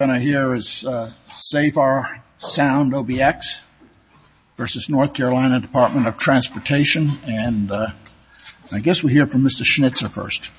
I guess we'll hear from Mr. Schnitzer first.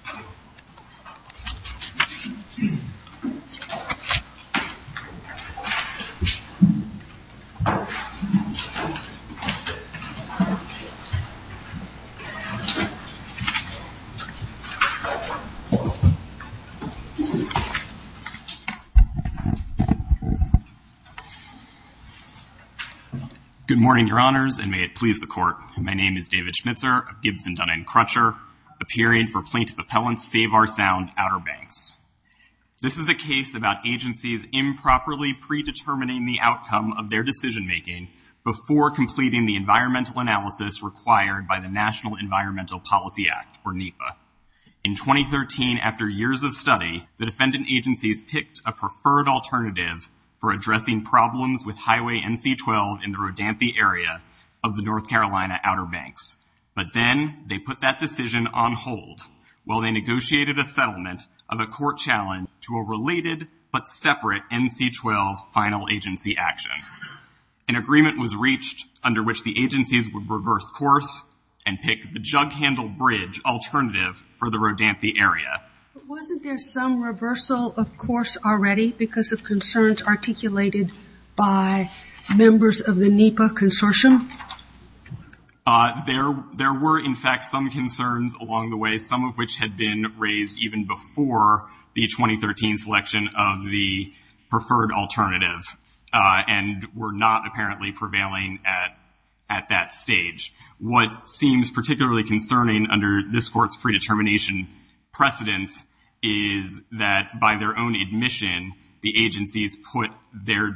Good morning, Your Honors, and may it please the Court. My name is David Schnitzer of Gibson, Dunn, and Crutcher, appearing for Plaintiff Appellant's Save Our Sound Outer Banks. This is a case about agencies improperly predetermining the outcome of their decision-making before completing the environmental analysis required by the National Environmental Policy Act, or NEPA. In 2013, after years of study, the defendant agencies picked a preferred alternative for addressing problems with Highway NC-12 in the Rodanthe area of the North Carolina Outer Banks. But then they put that decision on hold while they negotiated a settlement of a court challenge to a related but separate NC-12 final agency action. An agreement was reached under which the agencies would reverse course and pick the Jug Handle Bridge alternative for the Rodanthe area. Wasn't there some reversal of course already because of concerns articulated by members of the NEPA consortium? There were, in fact, some concerns along the way, some of which had been raised even before the 2013 selection of the preferred alternative and were not apparently prevailing at that stage. What seems particularly concerning under this court's predetermination precedence is that by their own admission, the agencies put their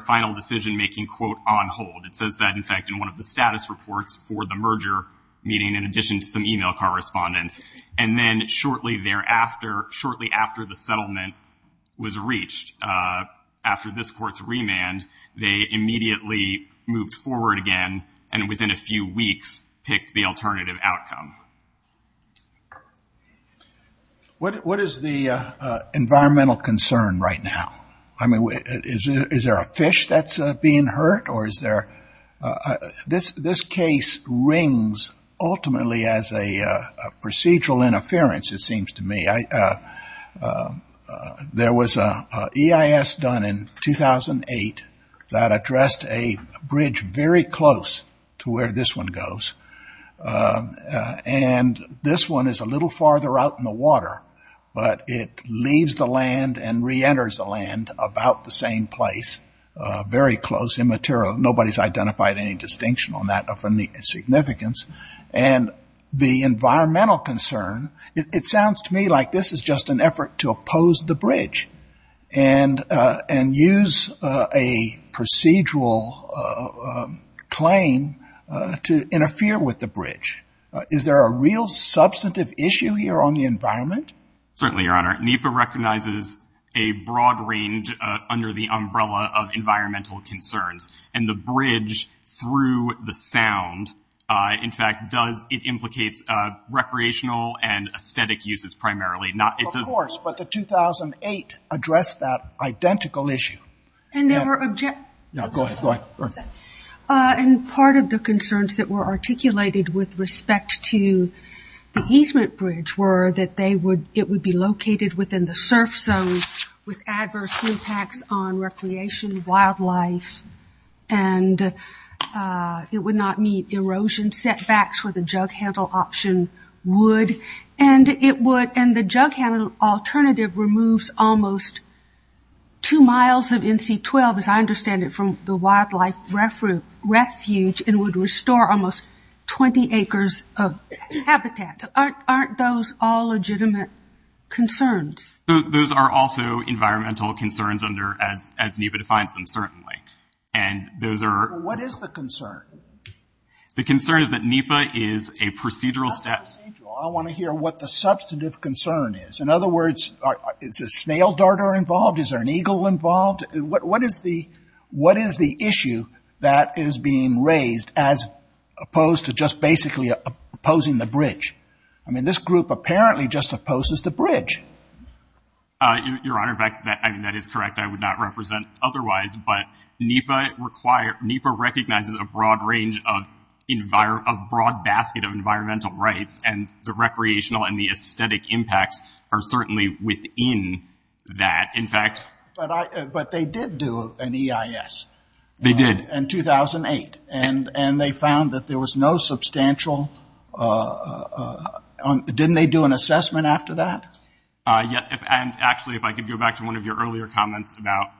final decision-making, quote, on hold. It says that, in fact, in one of the status reports for the merger meeting in addition to some e-mail correspondence. And then shortly thereafter, shortly after the settlement was reached, after this court's remand, they immediately moved forward again and within a few weeks picked the alternative outcome. What is the environmental concern right now? I mean, is there a fish that's being hurt or is there— This case rings ultimately as a procedural interference, it seems to me. There was an EIS done in 2008 that addressed a bridge very close to where this one goes. And this one is a little farther out in the water, but it leaves the land and reenters the land about the same place, very close, immaterial. Nobody's identified any distinction on that of significance. And the environmental concern, it sounds to me like this is just an effort to oppose the bridge and use a procedural claim to interfere with the bridge. Is there a real substantive issue here on the environment? Certainly, Your Honor. NEPA recognizes a broad range under the umbrella of environmental concerns, and the bridge through the sound, in fact, it implicates recreational and aesthetic uses primarily. Of course, but the 2008 addressed that identical issue. Go ahead. And part of the concerns that were articulated with respect to the easement bridge were that it would be located within the surf zone with adverse impacts on recreation, wildlife, and it would not meet erosion setbacks where the jug handle option would. And the jug handle alternative removes almost two miles of NC-12, as I understand it, from the wildlife refuge and would restore almost 20 acres of habitat. Aren't those all legitimate concerns? Those are also environmental concerns under, as NEPA defines them, certainly. And those are What is the concern? The concern is that NEPA is a procedural step Not procedural. I want to hear what the substantive concern is. In other words, is a snail darter involved? Is there an eagle involved? What is the issue that is being raised as opposed to just basically opposing the bridge? I mean, this group apparently just opposes the bridge. Your Honor, in fact, that is correct. I would not represent otherwise. But NEPA recognizes a broad basket of environmental rights, and the recreational and the aesthetic impacts are certainly within that. But they did do an EIS. They did. In 2008. And they found that there was no substantial Didn't they do an assessment after that? Actually, if I could go back to one of your earlier comments about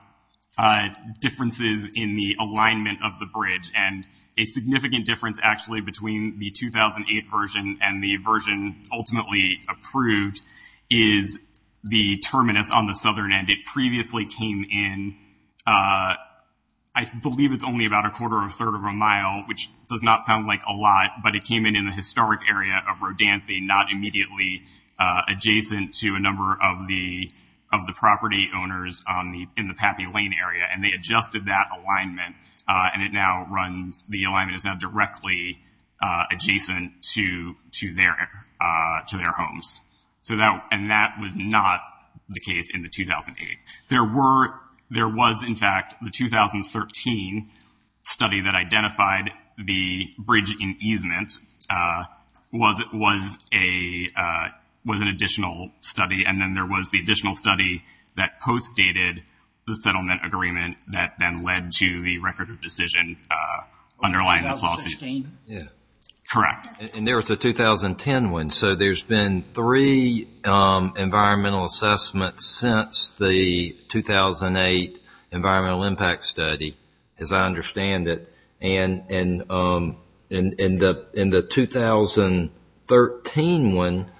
differences in the alignment of the bridge. And a significant difference, actually, between the 2008 version and the version ultimately approved is the terminus on the southern end. It previously came in. I believe it's only about a quarter or a third of a mile, which does not sound like a lot, but it came in in the historic area of Rodanthe, not immediately adjacent to a number of the of the property owners in the Pappy Lane area. And they adjusted that alignment. And it now runs. The alignment is now directly adjacent to to their to their homes. So that and that was not the case in the 2008. There were there was, in fact, the 2013 study that identified the bridge in easement was it was a was an additional study. And then there was the additional study that post dated the settlement agreement that then led to the record of decision. Underlying. Yeah. Correct. And there was a 2010 one. So there's been three environmental assessments since the 2008 environmental impact study, as I understand it. And in the in the 2013 one,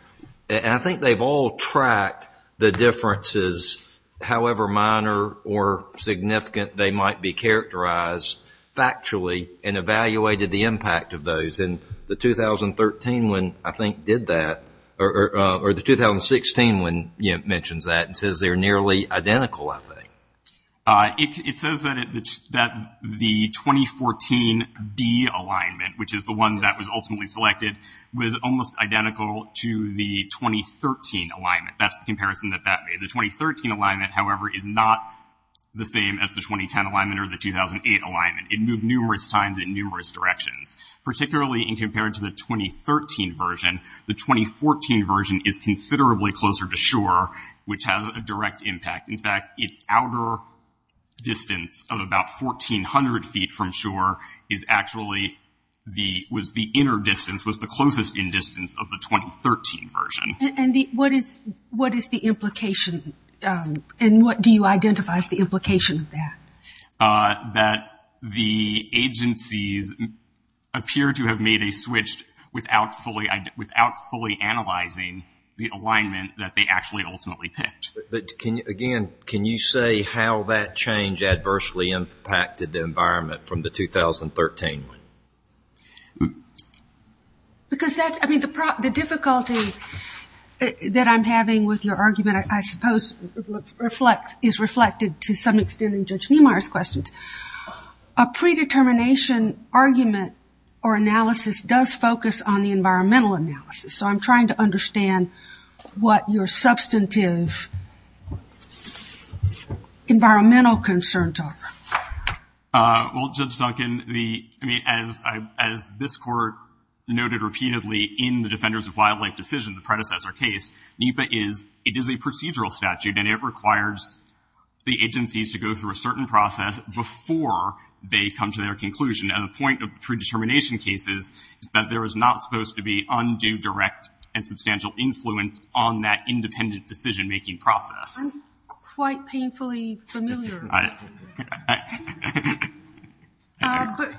I think they've all tracked the differences, however minor or significant they might be characterized factually and evaluated the impact of those. And the 2013 one, I think, did that. Or the 2016 one mentions that and says they're nearly identical. I think it says that that the 2014 D alignment, which is the one that was ultimately selected, was almost identical to the 2013 alignment. That's the comparison that that made. The 2013 alignment, however, is not the same as the 2010 alignment or the 2008 alignment. It moved numerous times in numerous directions, particularly in compared to the 2013 version. The 2014 version is considerably closer to shore, which has a direct impact. In fact, its outer distance of about 1400 feet from shore is actually the was the inner distance was the closest in distance of the 2013 version. And what is what is the implication? And what do you identify as the implication of that? That the agencies appear to have made a switch without fully without fully analyzing the alignment that they actually ultimately picked. But can you again, can you say how that change adversely impacted the environment from the 2013? Because that's I mean, the difficulty that I'm having with your argument, I suppose, is reflected to some extent in Judge Niemeyer's questions. A predetermination argument or analysis does focus on the environmental analysis. So I'm trying to understand what your substantive environmental concerns are. Well, Judge Duncan, as this court noted repeatedly in the Defenders of Wildlife decision, the predecessor case, NEPA is, it is a procedural statute and it requires the agencies to go through a certain process before they come to their conclusion. And the point of predetermination cases is that there is not supposed to be undue direct and substantial influence on that independent decision making process. I'm quite painfully familiar with that.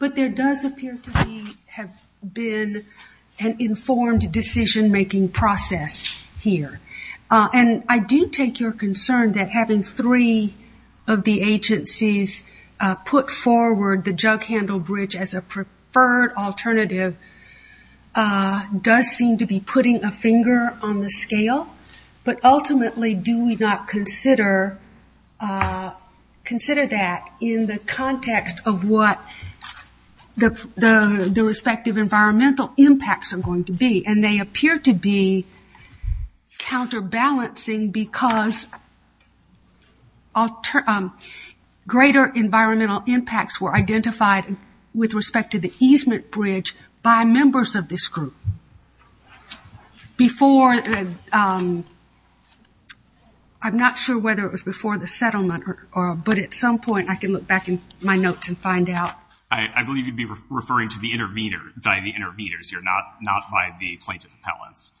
But there does appear to be, have been an informed decision making process here. And I do take your concern that having three of the agencies put forward the jug handle bridge as a preferred alternative does seem to be putting a finger on the scale. But ultimately, do we not consider that in the context of what the respective environmental impacts are going to be? And they appear to be counterbalancing because greater environmental impacts were identified with respect to the easement bridge by members of this group. Before, I'm not sure whether it was before the settlement, but at some point I can look back in my notes and find out. I believe you'd be referring to the intervener, by the interveners here, not by the plaintiff appellants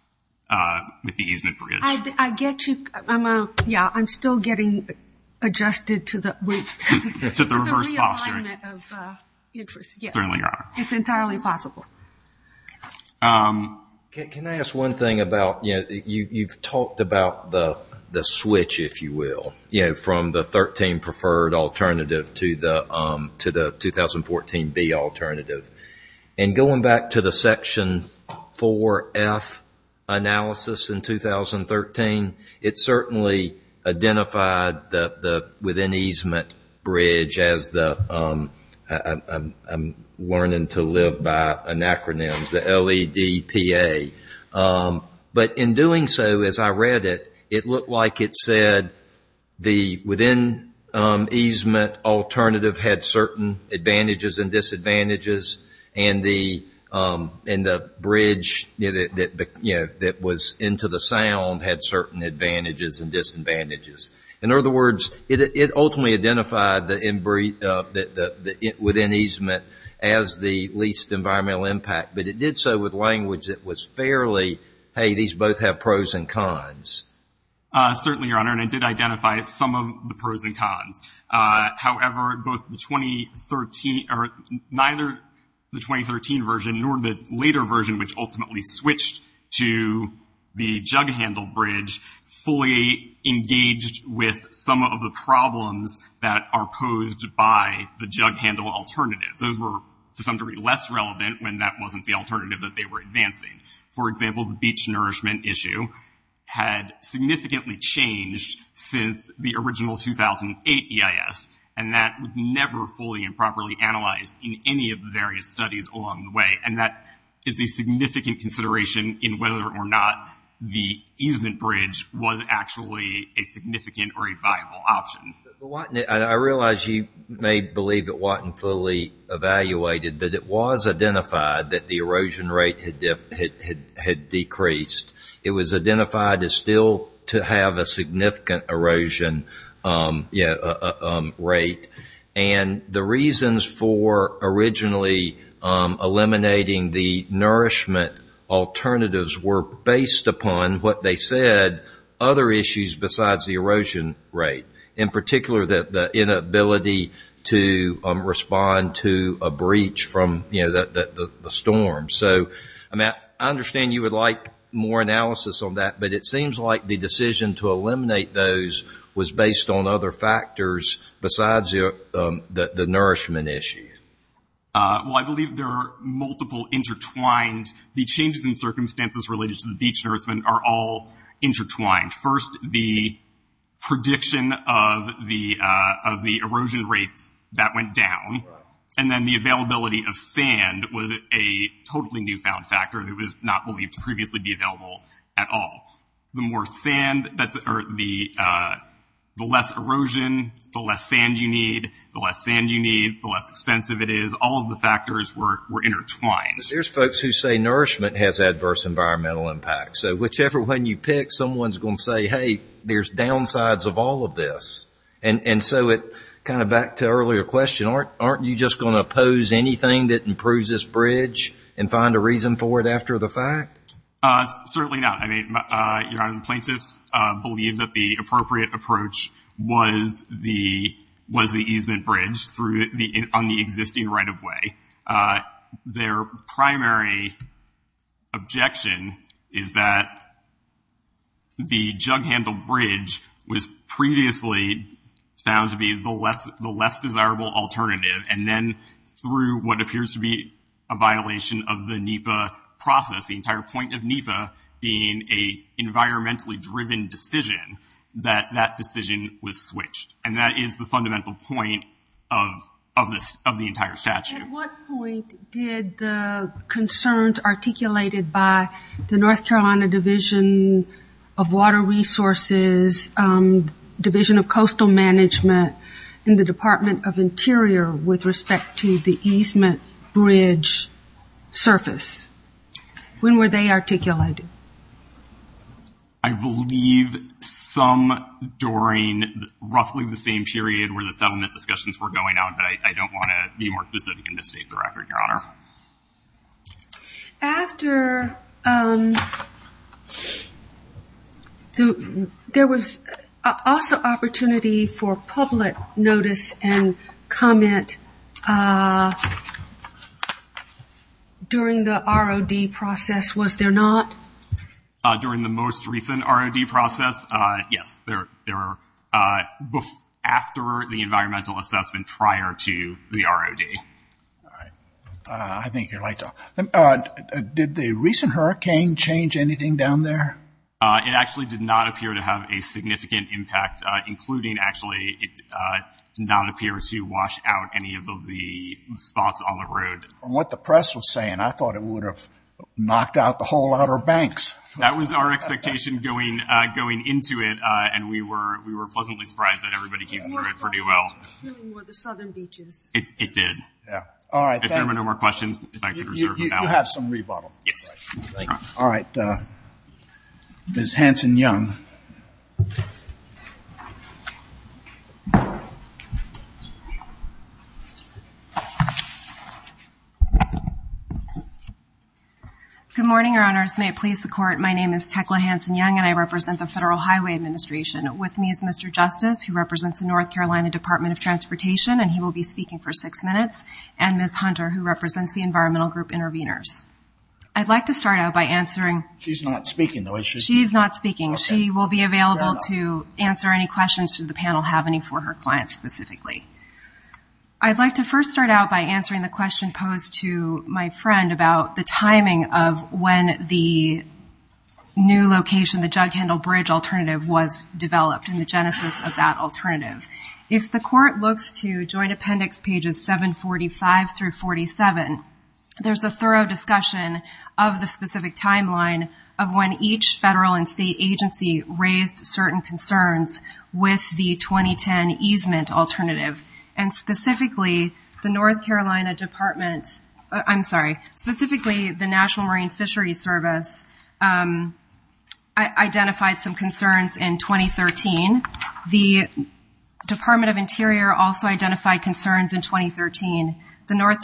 with the easement bridge. I get you. Yeah, I'm still getting adjusted to the reverse posturing. It's a realignment of interest. It certainly is. It's entirely possible. Can I ask one thing about, you've talked about the switch, if you will, from the 13 preferred alternative to the 2014B alternative. Going back to the section 4F analysis in 2013, it certainly identified the within easement bridge as the, I'm learning to live by an acronym, the LEDPA. But in doing so, as I read it, it looked like it said the within easement alternative had certain advantages and disadvantages, and the bridge that was into the sound had certain advantages and disadvantages. In other words, it ultimately identified the within easement as the least environmental impact, but it did so with language that was fairly, hey, these both have pros and cons. Certainly, Your Honor, and it did identify some of the pros and cons. However, neither the 2013 version nor the later version, which ultimately switched to the jug handle bridge, fully engaged with some of the problems that are posed by the jug handle alternative. Those were, to some degree, less relevant when that wasn't the alternative that they were advancing. For example, the beach nourishment issue had significantly changed since the original 2008 EIS, and that was never fully and properly analyzed in any of the various studies along the way, and that is a significant consideration in whether or not the easement bridge was actually a significant or a viable option. I realize you may believe it wasn't fully evaluated, but it was identified that the erosion rate had decreased. It was identified as still to have a significant erosion rate, and the reasons for originally eliminating the nourishment alternatives were based upon what they said, other issues besides the erosion rate. In particular, the inability to respond to a breach from the storm. So I understand you would like more analysis on that, but it seems like the decision to eliminate those was based on other factors besides the nourishment issue. Well, I believe there are multiple intertwined. The changes in circumstances related to the beach nourishment are all intertwined. First, the prediction of the erosion rates, that went down, and then the availability of sand was a totally newfound factor that was not believed to previously be available at all. The less erosion, the less sand you need. The less sand you need, the less expensive it is. All of the factors were intertwined. There's folks who say nourishment has adverse environmental impacts. So whichever one you pick, someone's going to say, hey, there's downsides of all of this. And so kind of back to earlier question, aren't you just going to oppose anything that improves this bridge and find a reason for it after the fact? Certainly not. Plaintiffs believe that the appropriate approach was the easement bridge on the existing right-of-way. Their primary objection is that the jug-handled bridge was previously found to be the less desirable alternative, and then through what appears to be a violation of the NEPA process, the entire point of NEPA being an environmentally-driven decision, that that decision was switched. And that is the fundamental point of the entire statute. At what point did the concerns articulated by the North Carolina Division of Water Resources, Division of Coastal Management, and the Department of Interior with respect to the easement bridge surface, when were they articulated? I believe some during roughly the same period where the settlement discussions were going on, but I don't want to be more specific and misstate the record, Your Honor. After there was also opportunity for public notice and comment during the ROD process, was there not? During the most recent ROD process, yes. There were after the environmental assessment prior to the ROD. All right. I think you're right. Did the recent hurricane change anything down there? It actually did not appear to have a significant impact, including actually it did not appear to wash out any of the spots on the road. From what the press was saying, I thought it would have knocked out the whole lot of banks. That was our expectation going into it, and we were pleasantly surprised that everybody came through it pretty well. The southern beaches. It did. If there were no more questions, I could reserve them now. You have some rebuttal. Yes. All right. Ms. Hanson-Young. Good morning, Your Honors. May it please the Court, my name is Tekla Hanson-Young, and I represent the Federal Highway Administration. With me is Mr. Justice, who represents the North Carolina Department of Transportation, and he will be speaking for six minutes, and Ms. Hunter, who represents the Environmental Group Intervenors. I'd like to start out by answering. She's not speaking, though, is she? She's not speaking. She will be available to answer any questions, should the panel have any for her client specifically. I'd like to first start out by answering the question posed to my friend about the timing of when the new location, the Jug Handle Bridge alternative, was developed and the genesis of that alternative. If the Court looks to Joint Appendix Pages 745 through 47, there's a thorough discussion of the specific timeline of when each federal and state agency raised certain concerns with the 2010 easement alternative, and specifically the North Carolina Department, I'm sorry, specifically the National Marine Fisheries Service identified some concerns in 2013. The Department of Interior also identified concerns in 2013. The North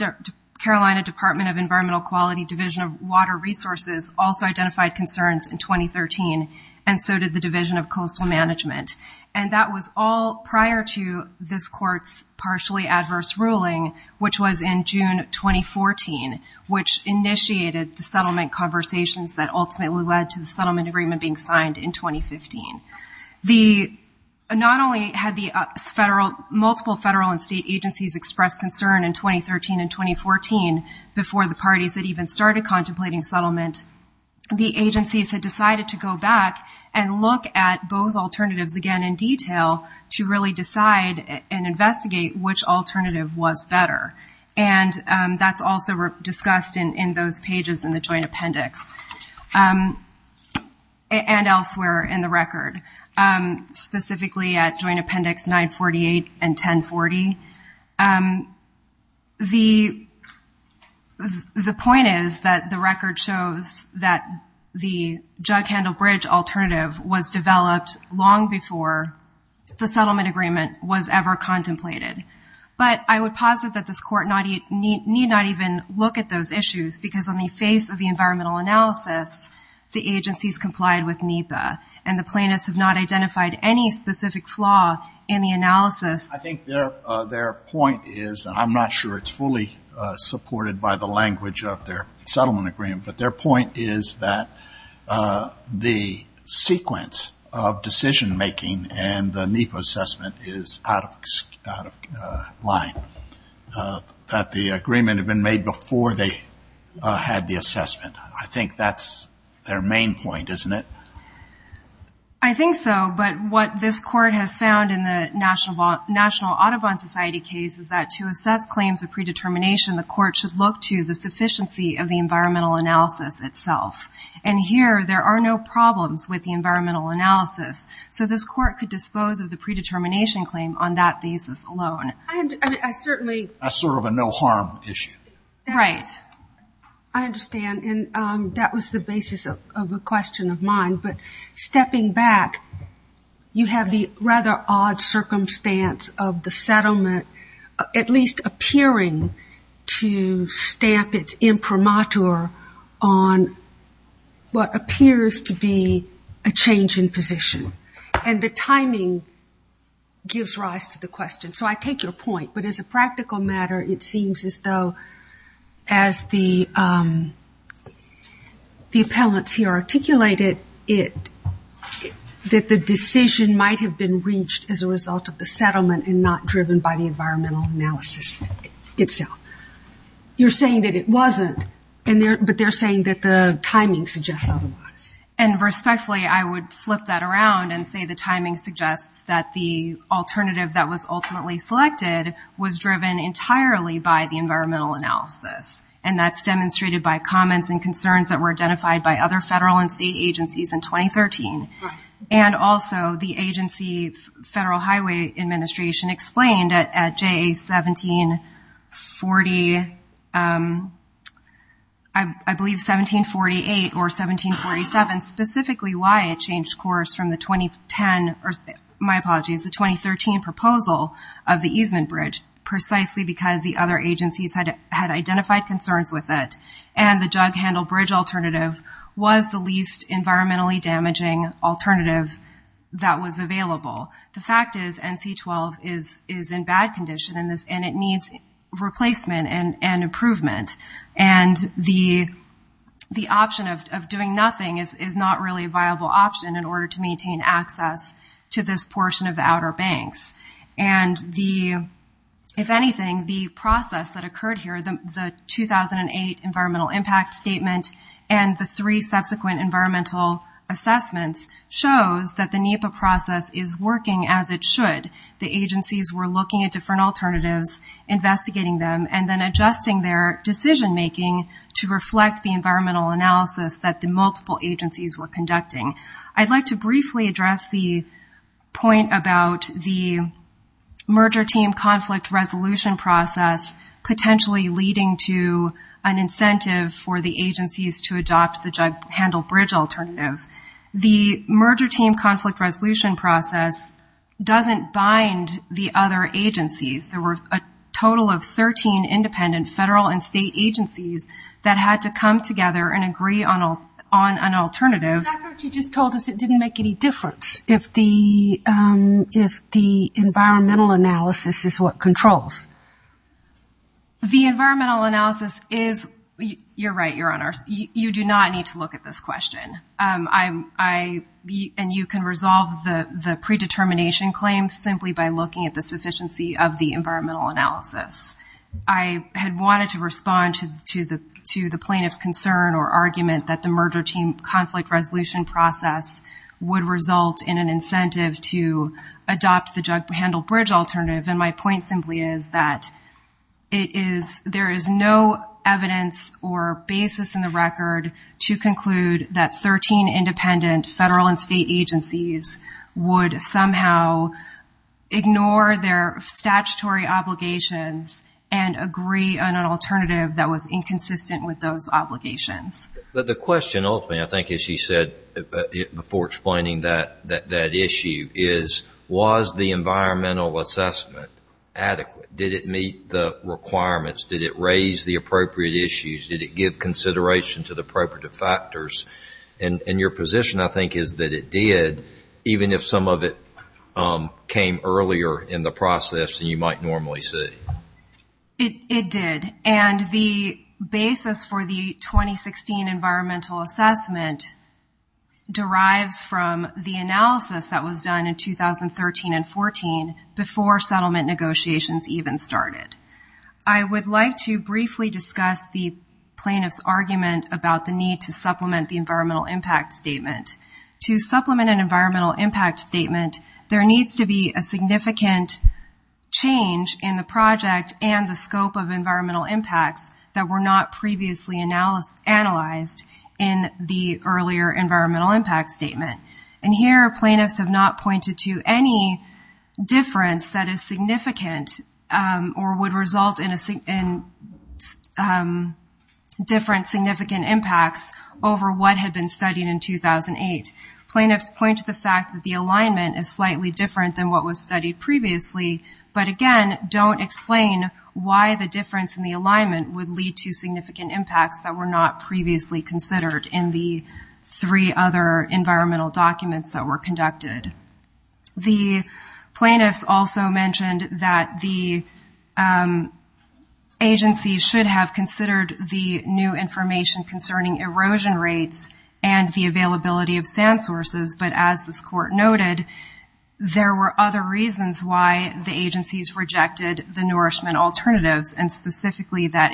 Carolina Department of Environmental Quality Division of Water Resources also identified concerns in 2013, and so did the Division of Coastal Management. And that was all prior to this Court's partially adverse ruling, which was in June 2014, which initiated the settlement conversations that ultimately led to the settlement agreement being signed in 2015. Not only had multiple federal and state agencies expressed concern in 2013 and 2014 before the parties had even started contemplating settlement, the agencies had decided to go back and look at both alternatives again in detail to really decide and investigate which alternative was better. And that's also discussed in those pages in the Joint Appendix and elsewhere in the record, specifically at Joint Appendix 948 and 1040. The point is that the record shows that the Jug Handle Bridge alternative was developed long before the settlement agreement was ever contemplated. But I would posit that this Court need not even look at those issues because on the face of the environmental analysis, the agencies complied with NEPA, and the plaintiffs have not identified any specific flaw in the analysis. I think their point is, and I'm not sure it's fully supported by the language of their settlement agreement, but their point is that the sequence of decision-making and the NEPA assessment is out of line, that the agreement had been made before they had the assessment. I think that's their main point, isn't it? I think so. But what this Court has found in the National Audubon Society case is that to assess claims of predetermination, the Court should look to the sufficiency of the environmental analysis itself. And here, there are no problems with the environmental analysis, so this Court could dispose of the predetermination claim on that basis alone. That's sort of a no-harm issue. Right. I understand, and that was the basis of a question of mine. But stepping back, you have the rather odd circumstance of the settlement at least appearing to stamp its imprimatur on what appears to be a change in position. And the timing gives rise to the question. So I take your point. But as a practical matter, it seems as though as the appellants here articulated it, that the decision might have been reached as a result of the settlement and not driven by the environmental analysis itself. You're saying that it wasn't, but they're saying that the timing suggests otherwise. And respectfully, I would flip that around and say the timing suggests that the alternative that was ultimately selected was driven entirely by the environmental analysis. And that's demonstrated by comments and concerns that were identified by other federal and state agencies in 2013. And also, the agency, Federal Highway Administration, explained at JA 1740, I believe 1748 or 1747, specifically why it changed course from the 2010, or my apologies, the 2013 proposal of the easement bridge, precisely because the other agencies had identified concerns with it. And the jug handle bridge alternative was the least environmentally damaging alternative that was available. The fact is NC12 is in bad condition, and it needs replacement and improvement. And the option of doing nothing is not really a viable option in order to maintain access to this portion of the Outer Banks. And if anything, the process that occurred here, the 2008 environmental impact statement and the three subsequent environmental assessments shows that the NEPA process is working as it should. The agencies were looking at different alternatives, investigating them, and then adjusting their decision-making to reflect the environmental analysis that the multiple agencies were conducting. I'd like to briefly address the point about the merger team conflict resolution process potentially leading to an incentive for the agencies to adopt the jug handle bridge alternative. The merger team conflict resolution process doesn't bind the other agencies. There were a total of 13 independent federal and state agencies that had to come together and agree on an alternative. I thought you just told us it didn't make any difference if the environmental analysis is what controls. The environmental analysis is, you're right, Your Honor, you do not need to look at this question. And you can resolve the predetermination claim simply by looking at the sufficiency of the environmental analysis. I had wanted to respond to the plaintiff's concern or argument that the merger team conflict resolution process would result in an incentive to adopt the jug handle bridge alternative, and my point simply is that there is no evidence or basis in the record to conclude that 13 independent federal and state agencies would somehow ignore their statutory obligations and agree on an alternative that was inconsistent with those obligations. But the question ultimately, I think, as she said before explaining that issue, is was the environmental assessment adequate? Did it meet the requirements? Did it raise the appropriate issues? Did it give consideration to the appropriate factors? And your position, I think, is that it did, even if some of it came earlier in the process than you might normally see. It did, and the basis for the 2016 environmental assessment derives from the analysis that was done in 2013 and 14 before settlement negotiations even started. I would like to briefly discuss the plaintiff's argument about the need to supplement the environmental impact statement. To supplement an environmental impact statement, there needs to be a significant change in the project and the scope of environmental impacts that were not previously analyzed in the earlier environmental impact statement. And here plaintiffs have not pointed to any difference that is significant or would result in different significant impacts over what had been studied in 2008. Plaintiffs point to the fact that the alignment is slightly different than what was studied previously, but again don't explain why the difference in the alignment would lead to significant impacts that were not previously considered in the three other environmental documents that were conducted. The plaintiffs also mentioned that the agency should have considered the new information concerning erosion rates and the availability of sand sources, but as this court noted, there were other reasons why the agencies rejected the nourishment alternatives and specifically that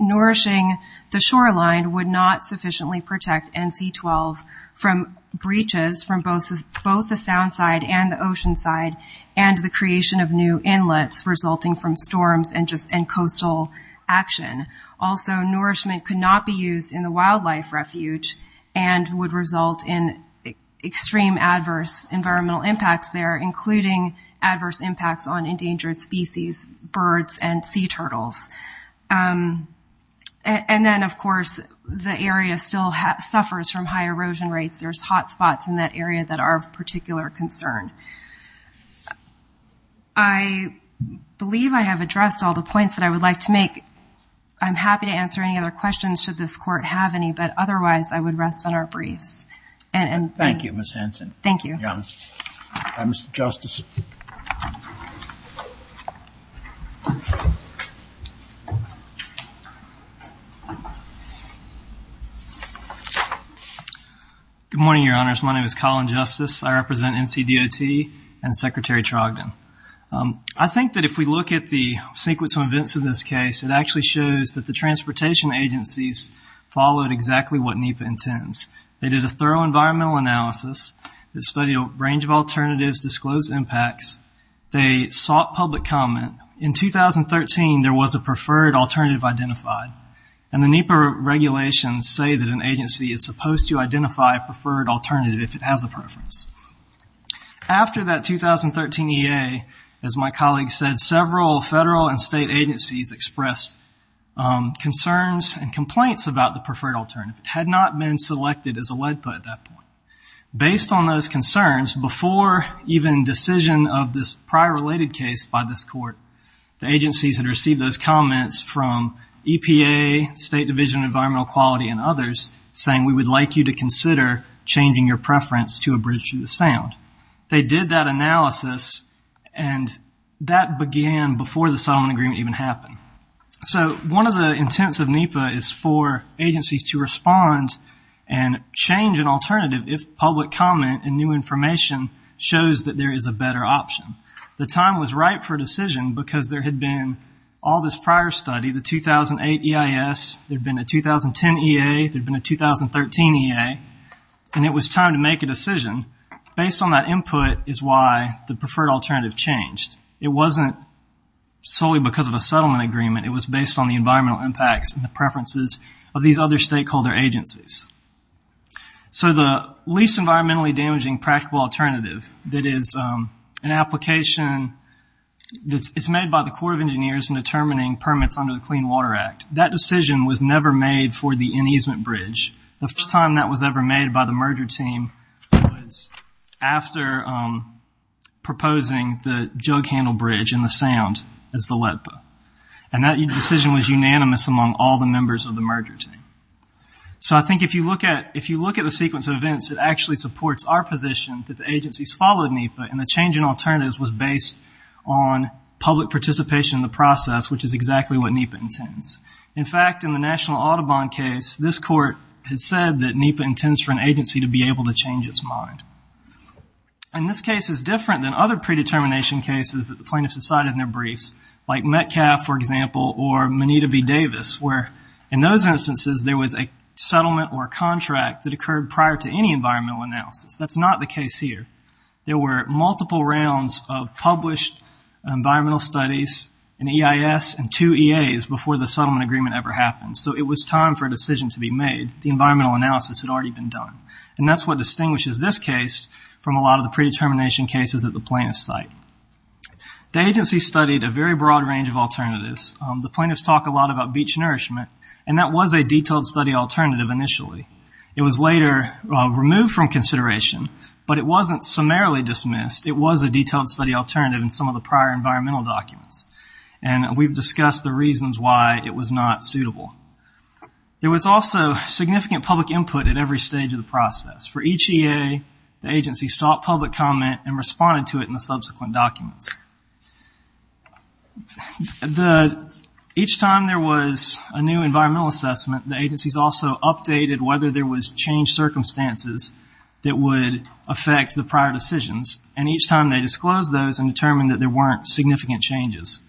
nourishing the shoreline would not sufficiently protect NC12 from breaches from both the sound side and the ocean side and the creation of new inlets resulting from storms and coastal action. Also, nourishment could not be used in the wildlife refuge and would result in extreme adverse environmental impacts there, including adverse impacts on endangered species, birds, and sea turtles. And then of course, the area still suffers from high erosion rates. There's hot spots in that area that are of particular concern. I believe I have addressed all the points that I would like to make. I'm happy to answer any other questions should this court have any, but otherwise I would rest on our briefs. Thank you, Ms. Hanson. Thank you. Mr. Justice. Good morning, Your Honors. My name is Colin Justice. I represent NCDOT and Secretary Trogdon. I think that if we look at the sequence of events of this case, it actually shows that the transportation agencies followed exactly what NEPA intends. They did a thorough environmental analysis. They studied a range of alternatives, disclosed impacts. They sought public comment. In 2013, there was a preferred alternative identified, and the NEPA regulations say that an agency is supposed to identify a preferred alternative if it has a preference. After that 2013 EA, as my colleague said, several federal and state agencies expressed concerns and complaints about the preferred alternative. It had not been selected as a lead put at that point. Based on those concerns, before even decision of this prior related case by this court, the agencies had received those comments from EPA, State Division of Environmental Quality, and others, saying we would like you to consider changing your preference to a bridge to the sound. They did that analysis, and that began before the settlement agreement even happened. One of the intents of NEPA is for agencies to respond and change an alternative if public comment and new information shows that there is a better option. The time was right for a decision because there had been all this prior study, the 2008 EIS, there had been a 2010 EA, there had been a 2013 EA, and it was time to make a decision. Based on that input is why the preferred alternative changed. It wasn't solely because of a settlement agreement. It was based on the environmental impacts and the preferences of these other stakeholder agencies. So the least environmentally damaging practical alternative that is an application that is made by the Corps of Engineers in determining permits under the Clean Water Act, that decision was never made for the ineasement bridge. The first time that was ever made by the merger team was after proposing the jug handle bridge in the sound as the LEPPA. And that decision was unanimous among all the members of the merger team. So I think if you look at the sequence of events, it actually supports our position that the agencies followed NEPA, and the change in alternatives was based on public participation in the process, which is exactly what NEPA intends. In fact, in the National Audubon case, this court had said that NEPA intends for an agency to be able to change its mind. And this case is different than other predetermination cases that the plaintiffs decided in their briefs, like Metcalfe, for example, or Moneta v. Davis, where in those instances there was a settlement or a contract that occurred prior to any environmental analysis. That's not the case here. There were multiple rounds of published environmental studies, an EIS, and two EAs before the settlement agreement ever happened. So it was time for a decision to be made. The environmental analysis had already been done. And that's what distinguishes this case from a lot of the predetermination cases at the plaintiff's site. The agency studied a very broad range of alternatives. The plaintiffs talk a lot about beach nourishment, and that was a detailed study alternative initially. It was later removed from consideration, but it wasn't summarily dismissed. It was a detailed study alternative in some of the prior environmental documents. And we've discussed the reasons why it was not suitable. There was also significant public input at every stage of the process. For each EA, the agency sought public comment and responded to it in the subsequent documents. Each time there was a new environmental assessment, the agencies also updated whether there was changed circumstances that would affect the prior decisions. And each time they disclosed those and determined that there weren't significant changes.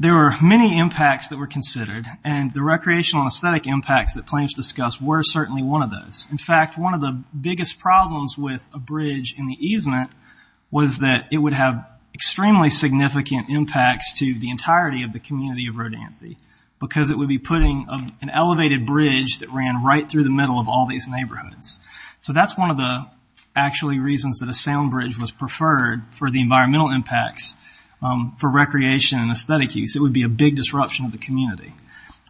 There were many impacts that were considered, and the recreational and aesthetic impacts that plaintiffs discussed were certainly one of those. In fact, one of the biggest problems with a bridge in the easement was that it would have extremely significant impacts to the entirety of the community of Rodanthe, because it would be putting an elevated bridge that ran right through the middle of all these neighborhoods. So that's one of the reasons that a sound bridge was preferred for the environmental impacts for recreation and aesthetic use. It would be a big disruption of the community.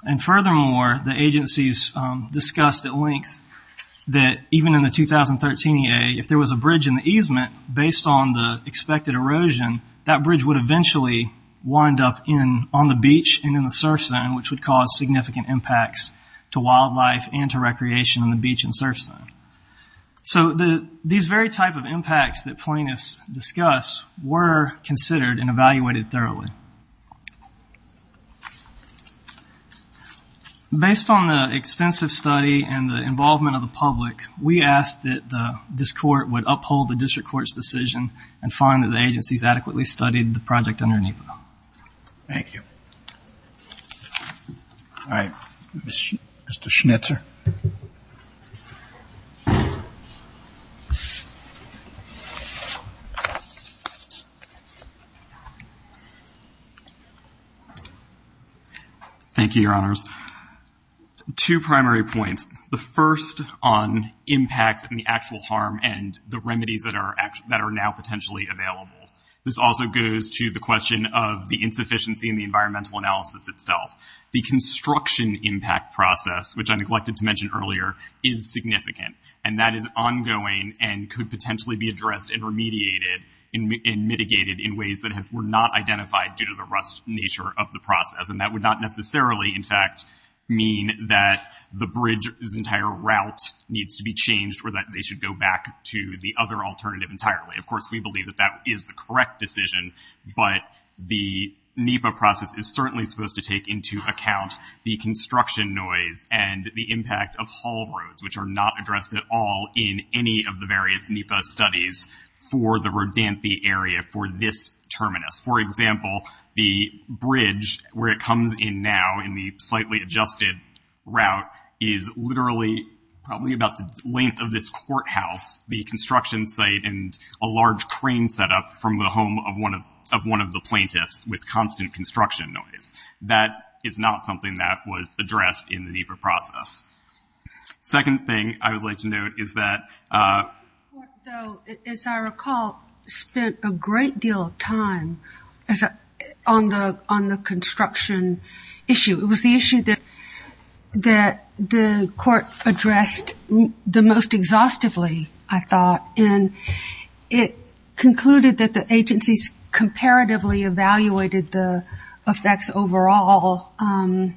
And furthermore, the agencies discussed at length that even in the 2013 EA, if there was a bridge in the easement, based on the expected erosion, that bridge would eventually wind up on the beach and in the surf zone, which would cause significant impacts to wildlife and to recreation on the beach and surf zone. So these very type of impacts that plaintiffs discussed were considered and evaluated thoroughly. Based on the extensive study and the involvement of the public, we asked that this court would uphold the district court's decision and find that the agencies adequately studied the project under NEPA. Thank you. All right. Mr. Schnitzer. Thank you, Your Honors. Two primary points. The first on impacts and the actual harm and the remedies that are now potentially available. This also goes to the question of the insufficiency in the environmental analysis itself. The construction impact process, which I neglected to mention earlier, is significant. And that is ongoing and could potentially be addressed and remediated and mitigated in ways that were not identified due to the rust nature of the process. And that would not necessarily, in fact, mean that the bridge's entire route needs to be changed or that they should go back to the other alternative entirely. Of course, we believe that that is the correct decision. But the NEPA process is certainly supposed to take into account the construction noise and the impact of haul roads, which are not addressed at all in any of the various NEPA studies for the Rodanthe area, for this terminus. For example, the bridge where it comes in now in the slightly adjusted route is literally probably about the length of this courthouse, the construction site, and a large crane set up from the home of one of the plaintiffs with constant construction noise. That is not something that was addressed in the NEPA process. Second thing I would like to note is that... The court, though, as I recall, spent a great deal of time on the construction issue. It was the issue that the court addressed the most exhaustively, I thought, and it concluded that the agencies comparatively evaluated the effects overall. Although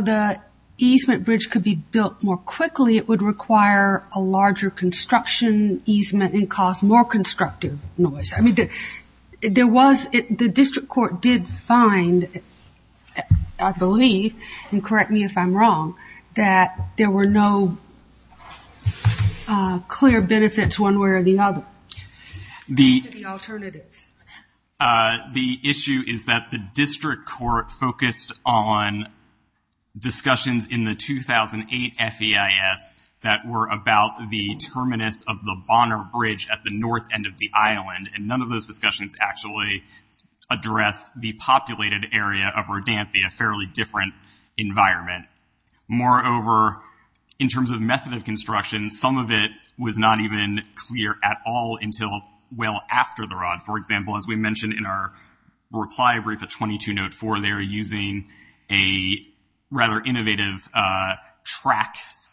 the easement bridge could be built more quickly, it would require a larger construction easement and cause more constructive noise. The district court did find, I believe, and correct me if I'm wrong, that there were no clear benefits one way or the other. The issue is that the district court focused on discussions in the 2008 FEIS that were about the terminus of the Bonner Bridge at the north end of the island, and none of those discussions actually addressed the populated area of Rodanthe, a fairly different environment. Moreover, in terms of method of construction, some of it was not even clear at all until well after the Rodanthe. For example, as we mentioned in our reply brief at 22 Note 4, they are using a rather innovative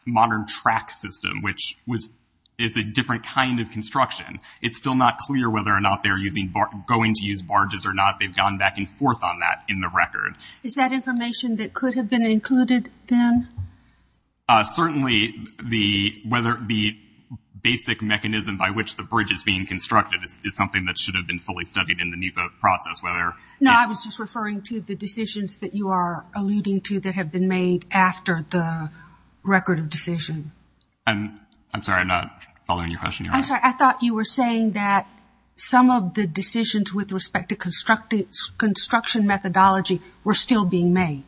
modern track system, which is a different kind of construction. It's still not clear whether or not they're going to use barges or not. They've gone back and forth on that in the record. Is that information that could have been included then? Certainly the basic mechanism by which the bridge is being constructed is something that should have been fully studied in the NEPA process. No, I was just referring to the decisions that you are alluding to that have been made after the record of decision. I'm sorry, I'm not following your question. I'm sorry, I thought you were saying that some of the decisions with respect to construction methodology were still being made.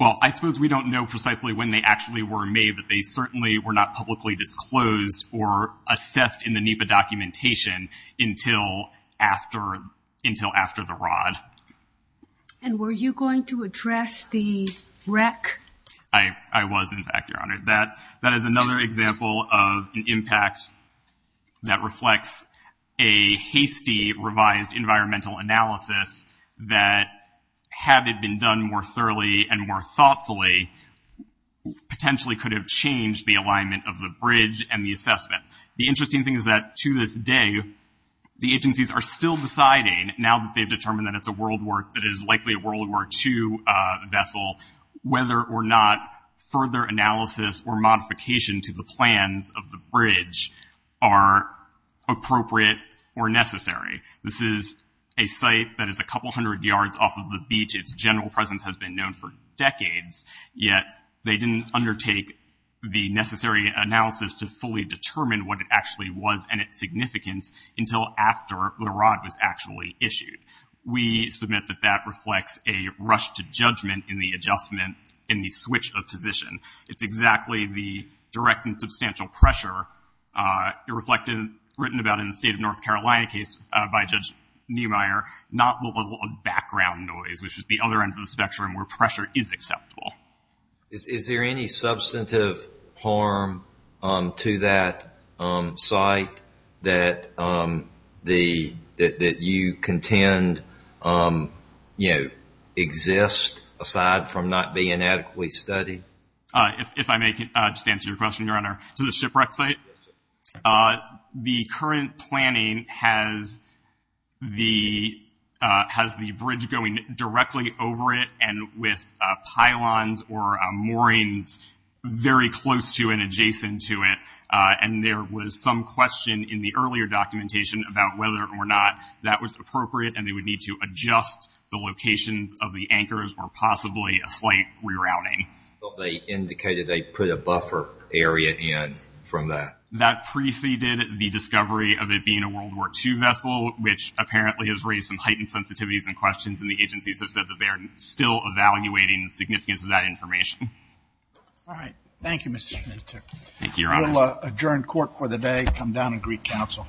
Well, I suppose we don't know precisely when they actually were made, but they certainly were not publicly disclosed or assessed in the NEPA documentation until after the Rod. And were you going to address the wreck? I was, in fact, Your Honor. That is another example of an impact that reflects a hasty revised environmental analysis that, had it been done more thoroughly and more thoughtfully, potentially could have changed the alignment of the bridge and the assessment. The interesting thing is that, to this day, the agencies are still deciding, now that they've determined that it's likely a World War II vessel, whether or not further analysis or modification to the plans of the bridge are appropriate or necessary. This is a site that is a couple hundred yards off of the beach. Its general presence has been known for decades, yet they didn't undertake the necessary analysis to fully determine what it actually was and its significance until after the Rod was actually issued. We submit that that reflects a rush to judgment in the adjustment in the switch of position. It's exactly the direct and substantial pressure reflected, written about in the state of North Carolina case by Judge Niemeyer, not the level of background noise, which is the other end of the spectrum where pressure is acceptable. Is there any substantive harm to that site that you contend exists aside from not being adequately studied? If I may just answer your question, Your Honor. To the shipwreck site, the current planning has the bridge going directly over it and with pylons or moorings very close to and adjacent to it. And there was some question in the earlier documentation about whether or not that was appropriate and they would need to adjust the locations of the anchors or possibly a slight rerouting. They indicated they put a buffer area in from that. That preceded the discovery of it being a World War II vessel, which apparently has raised some heightened sensitivities and questions, and the agencies have said that they are still evaluating the significance of that information. All right. Thank you, Mr. Smith. Thank you, Your Honor. We'll adjourn court for the day, come down and greet counsel.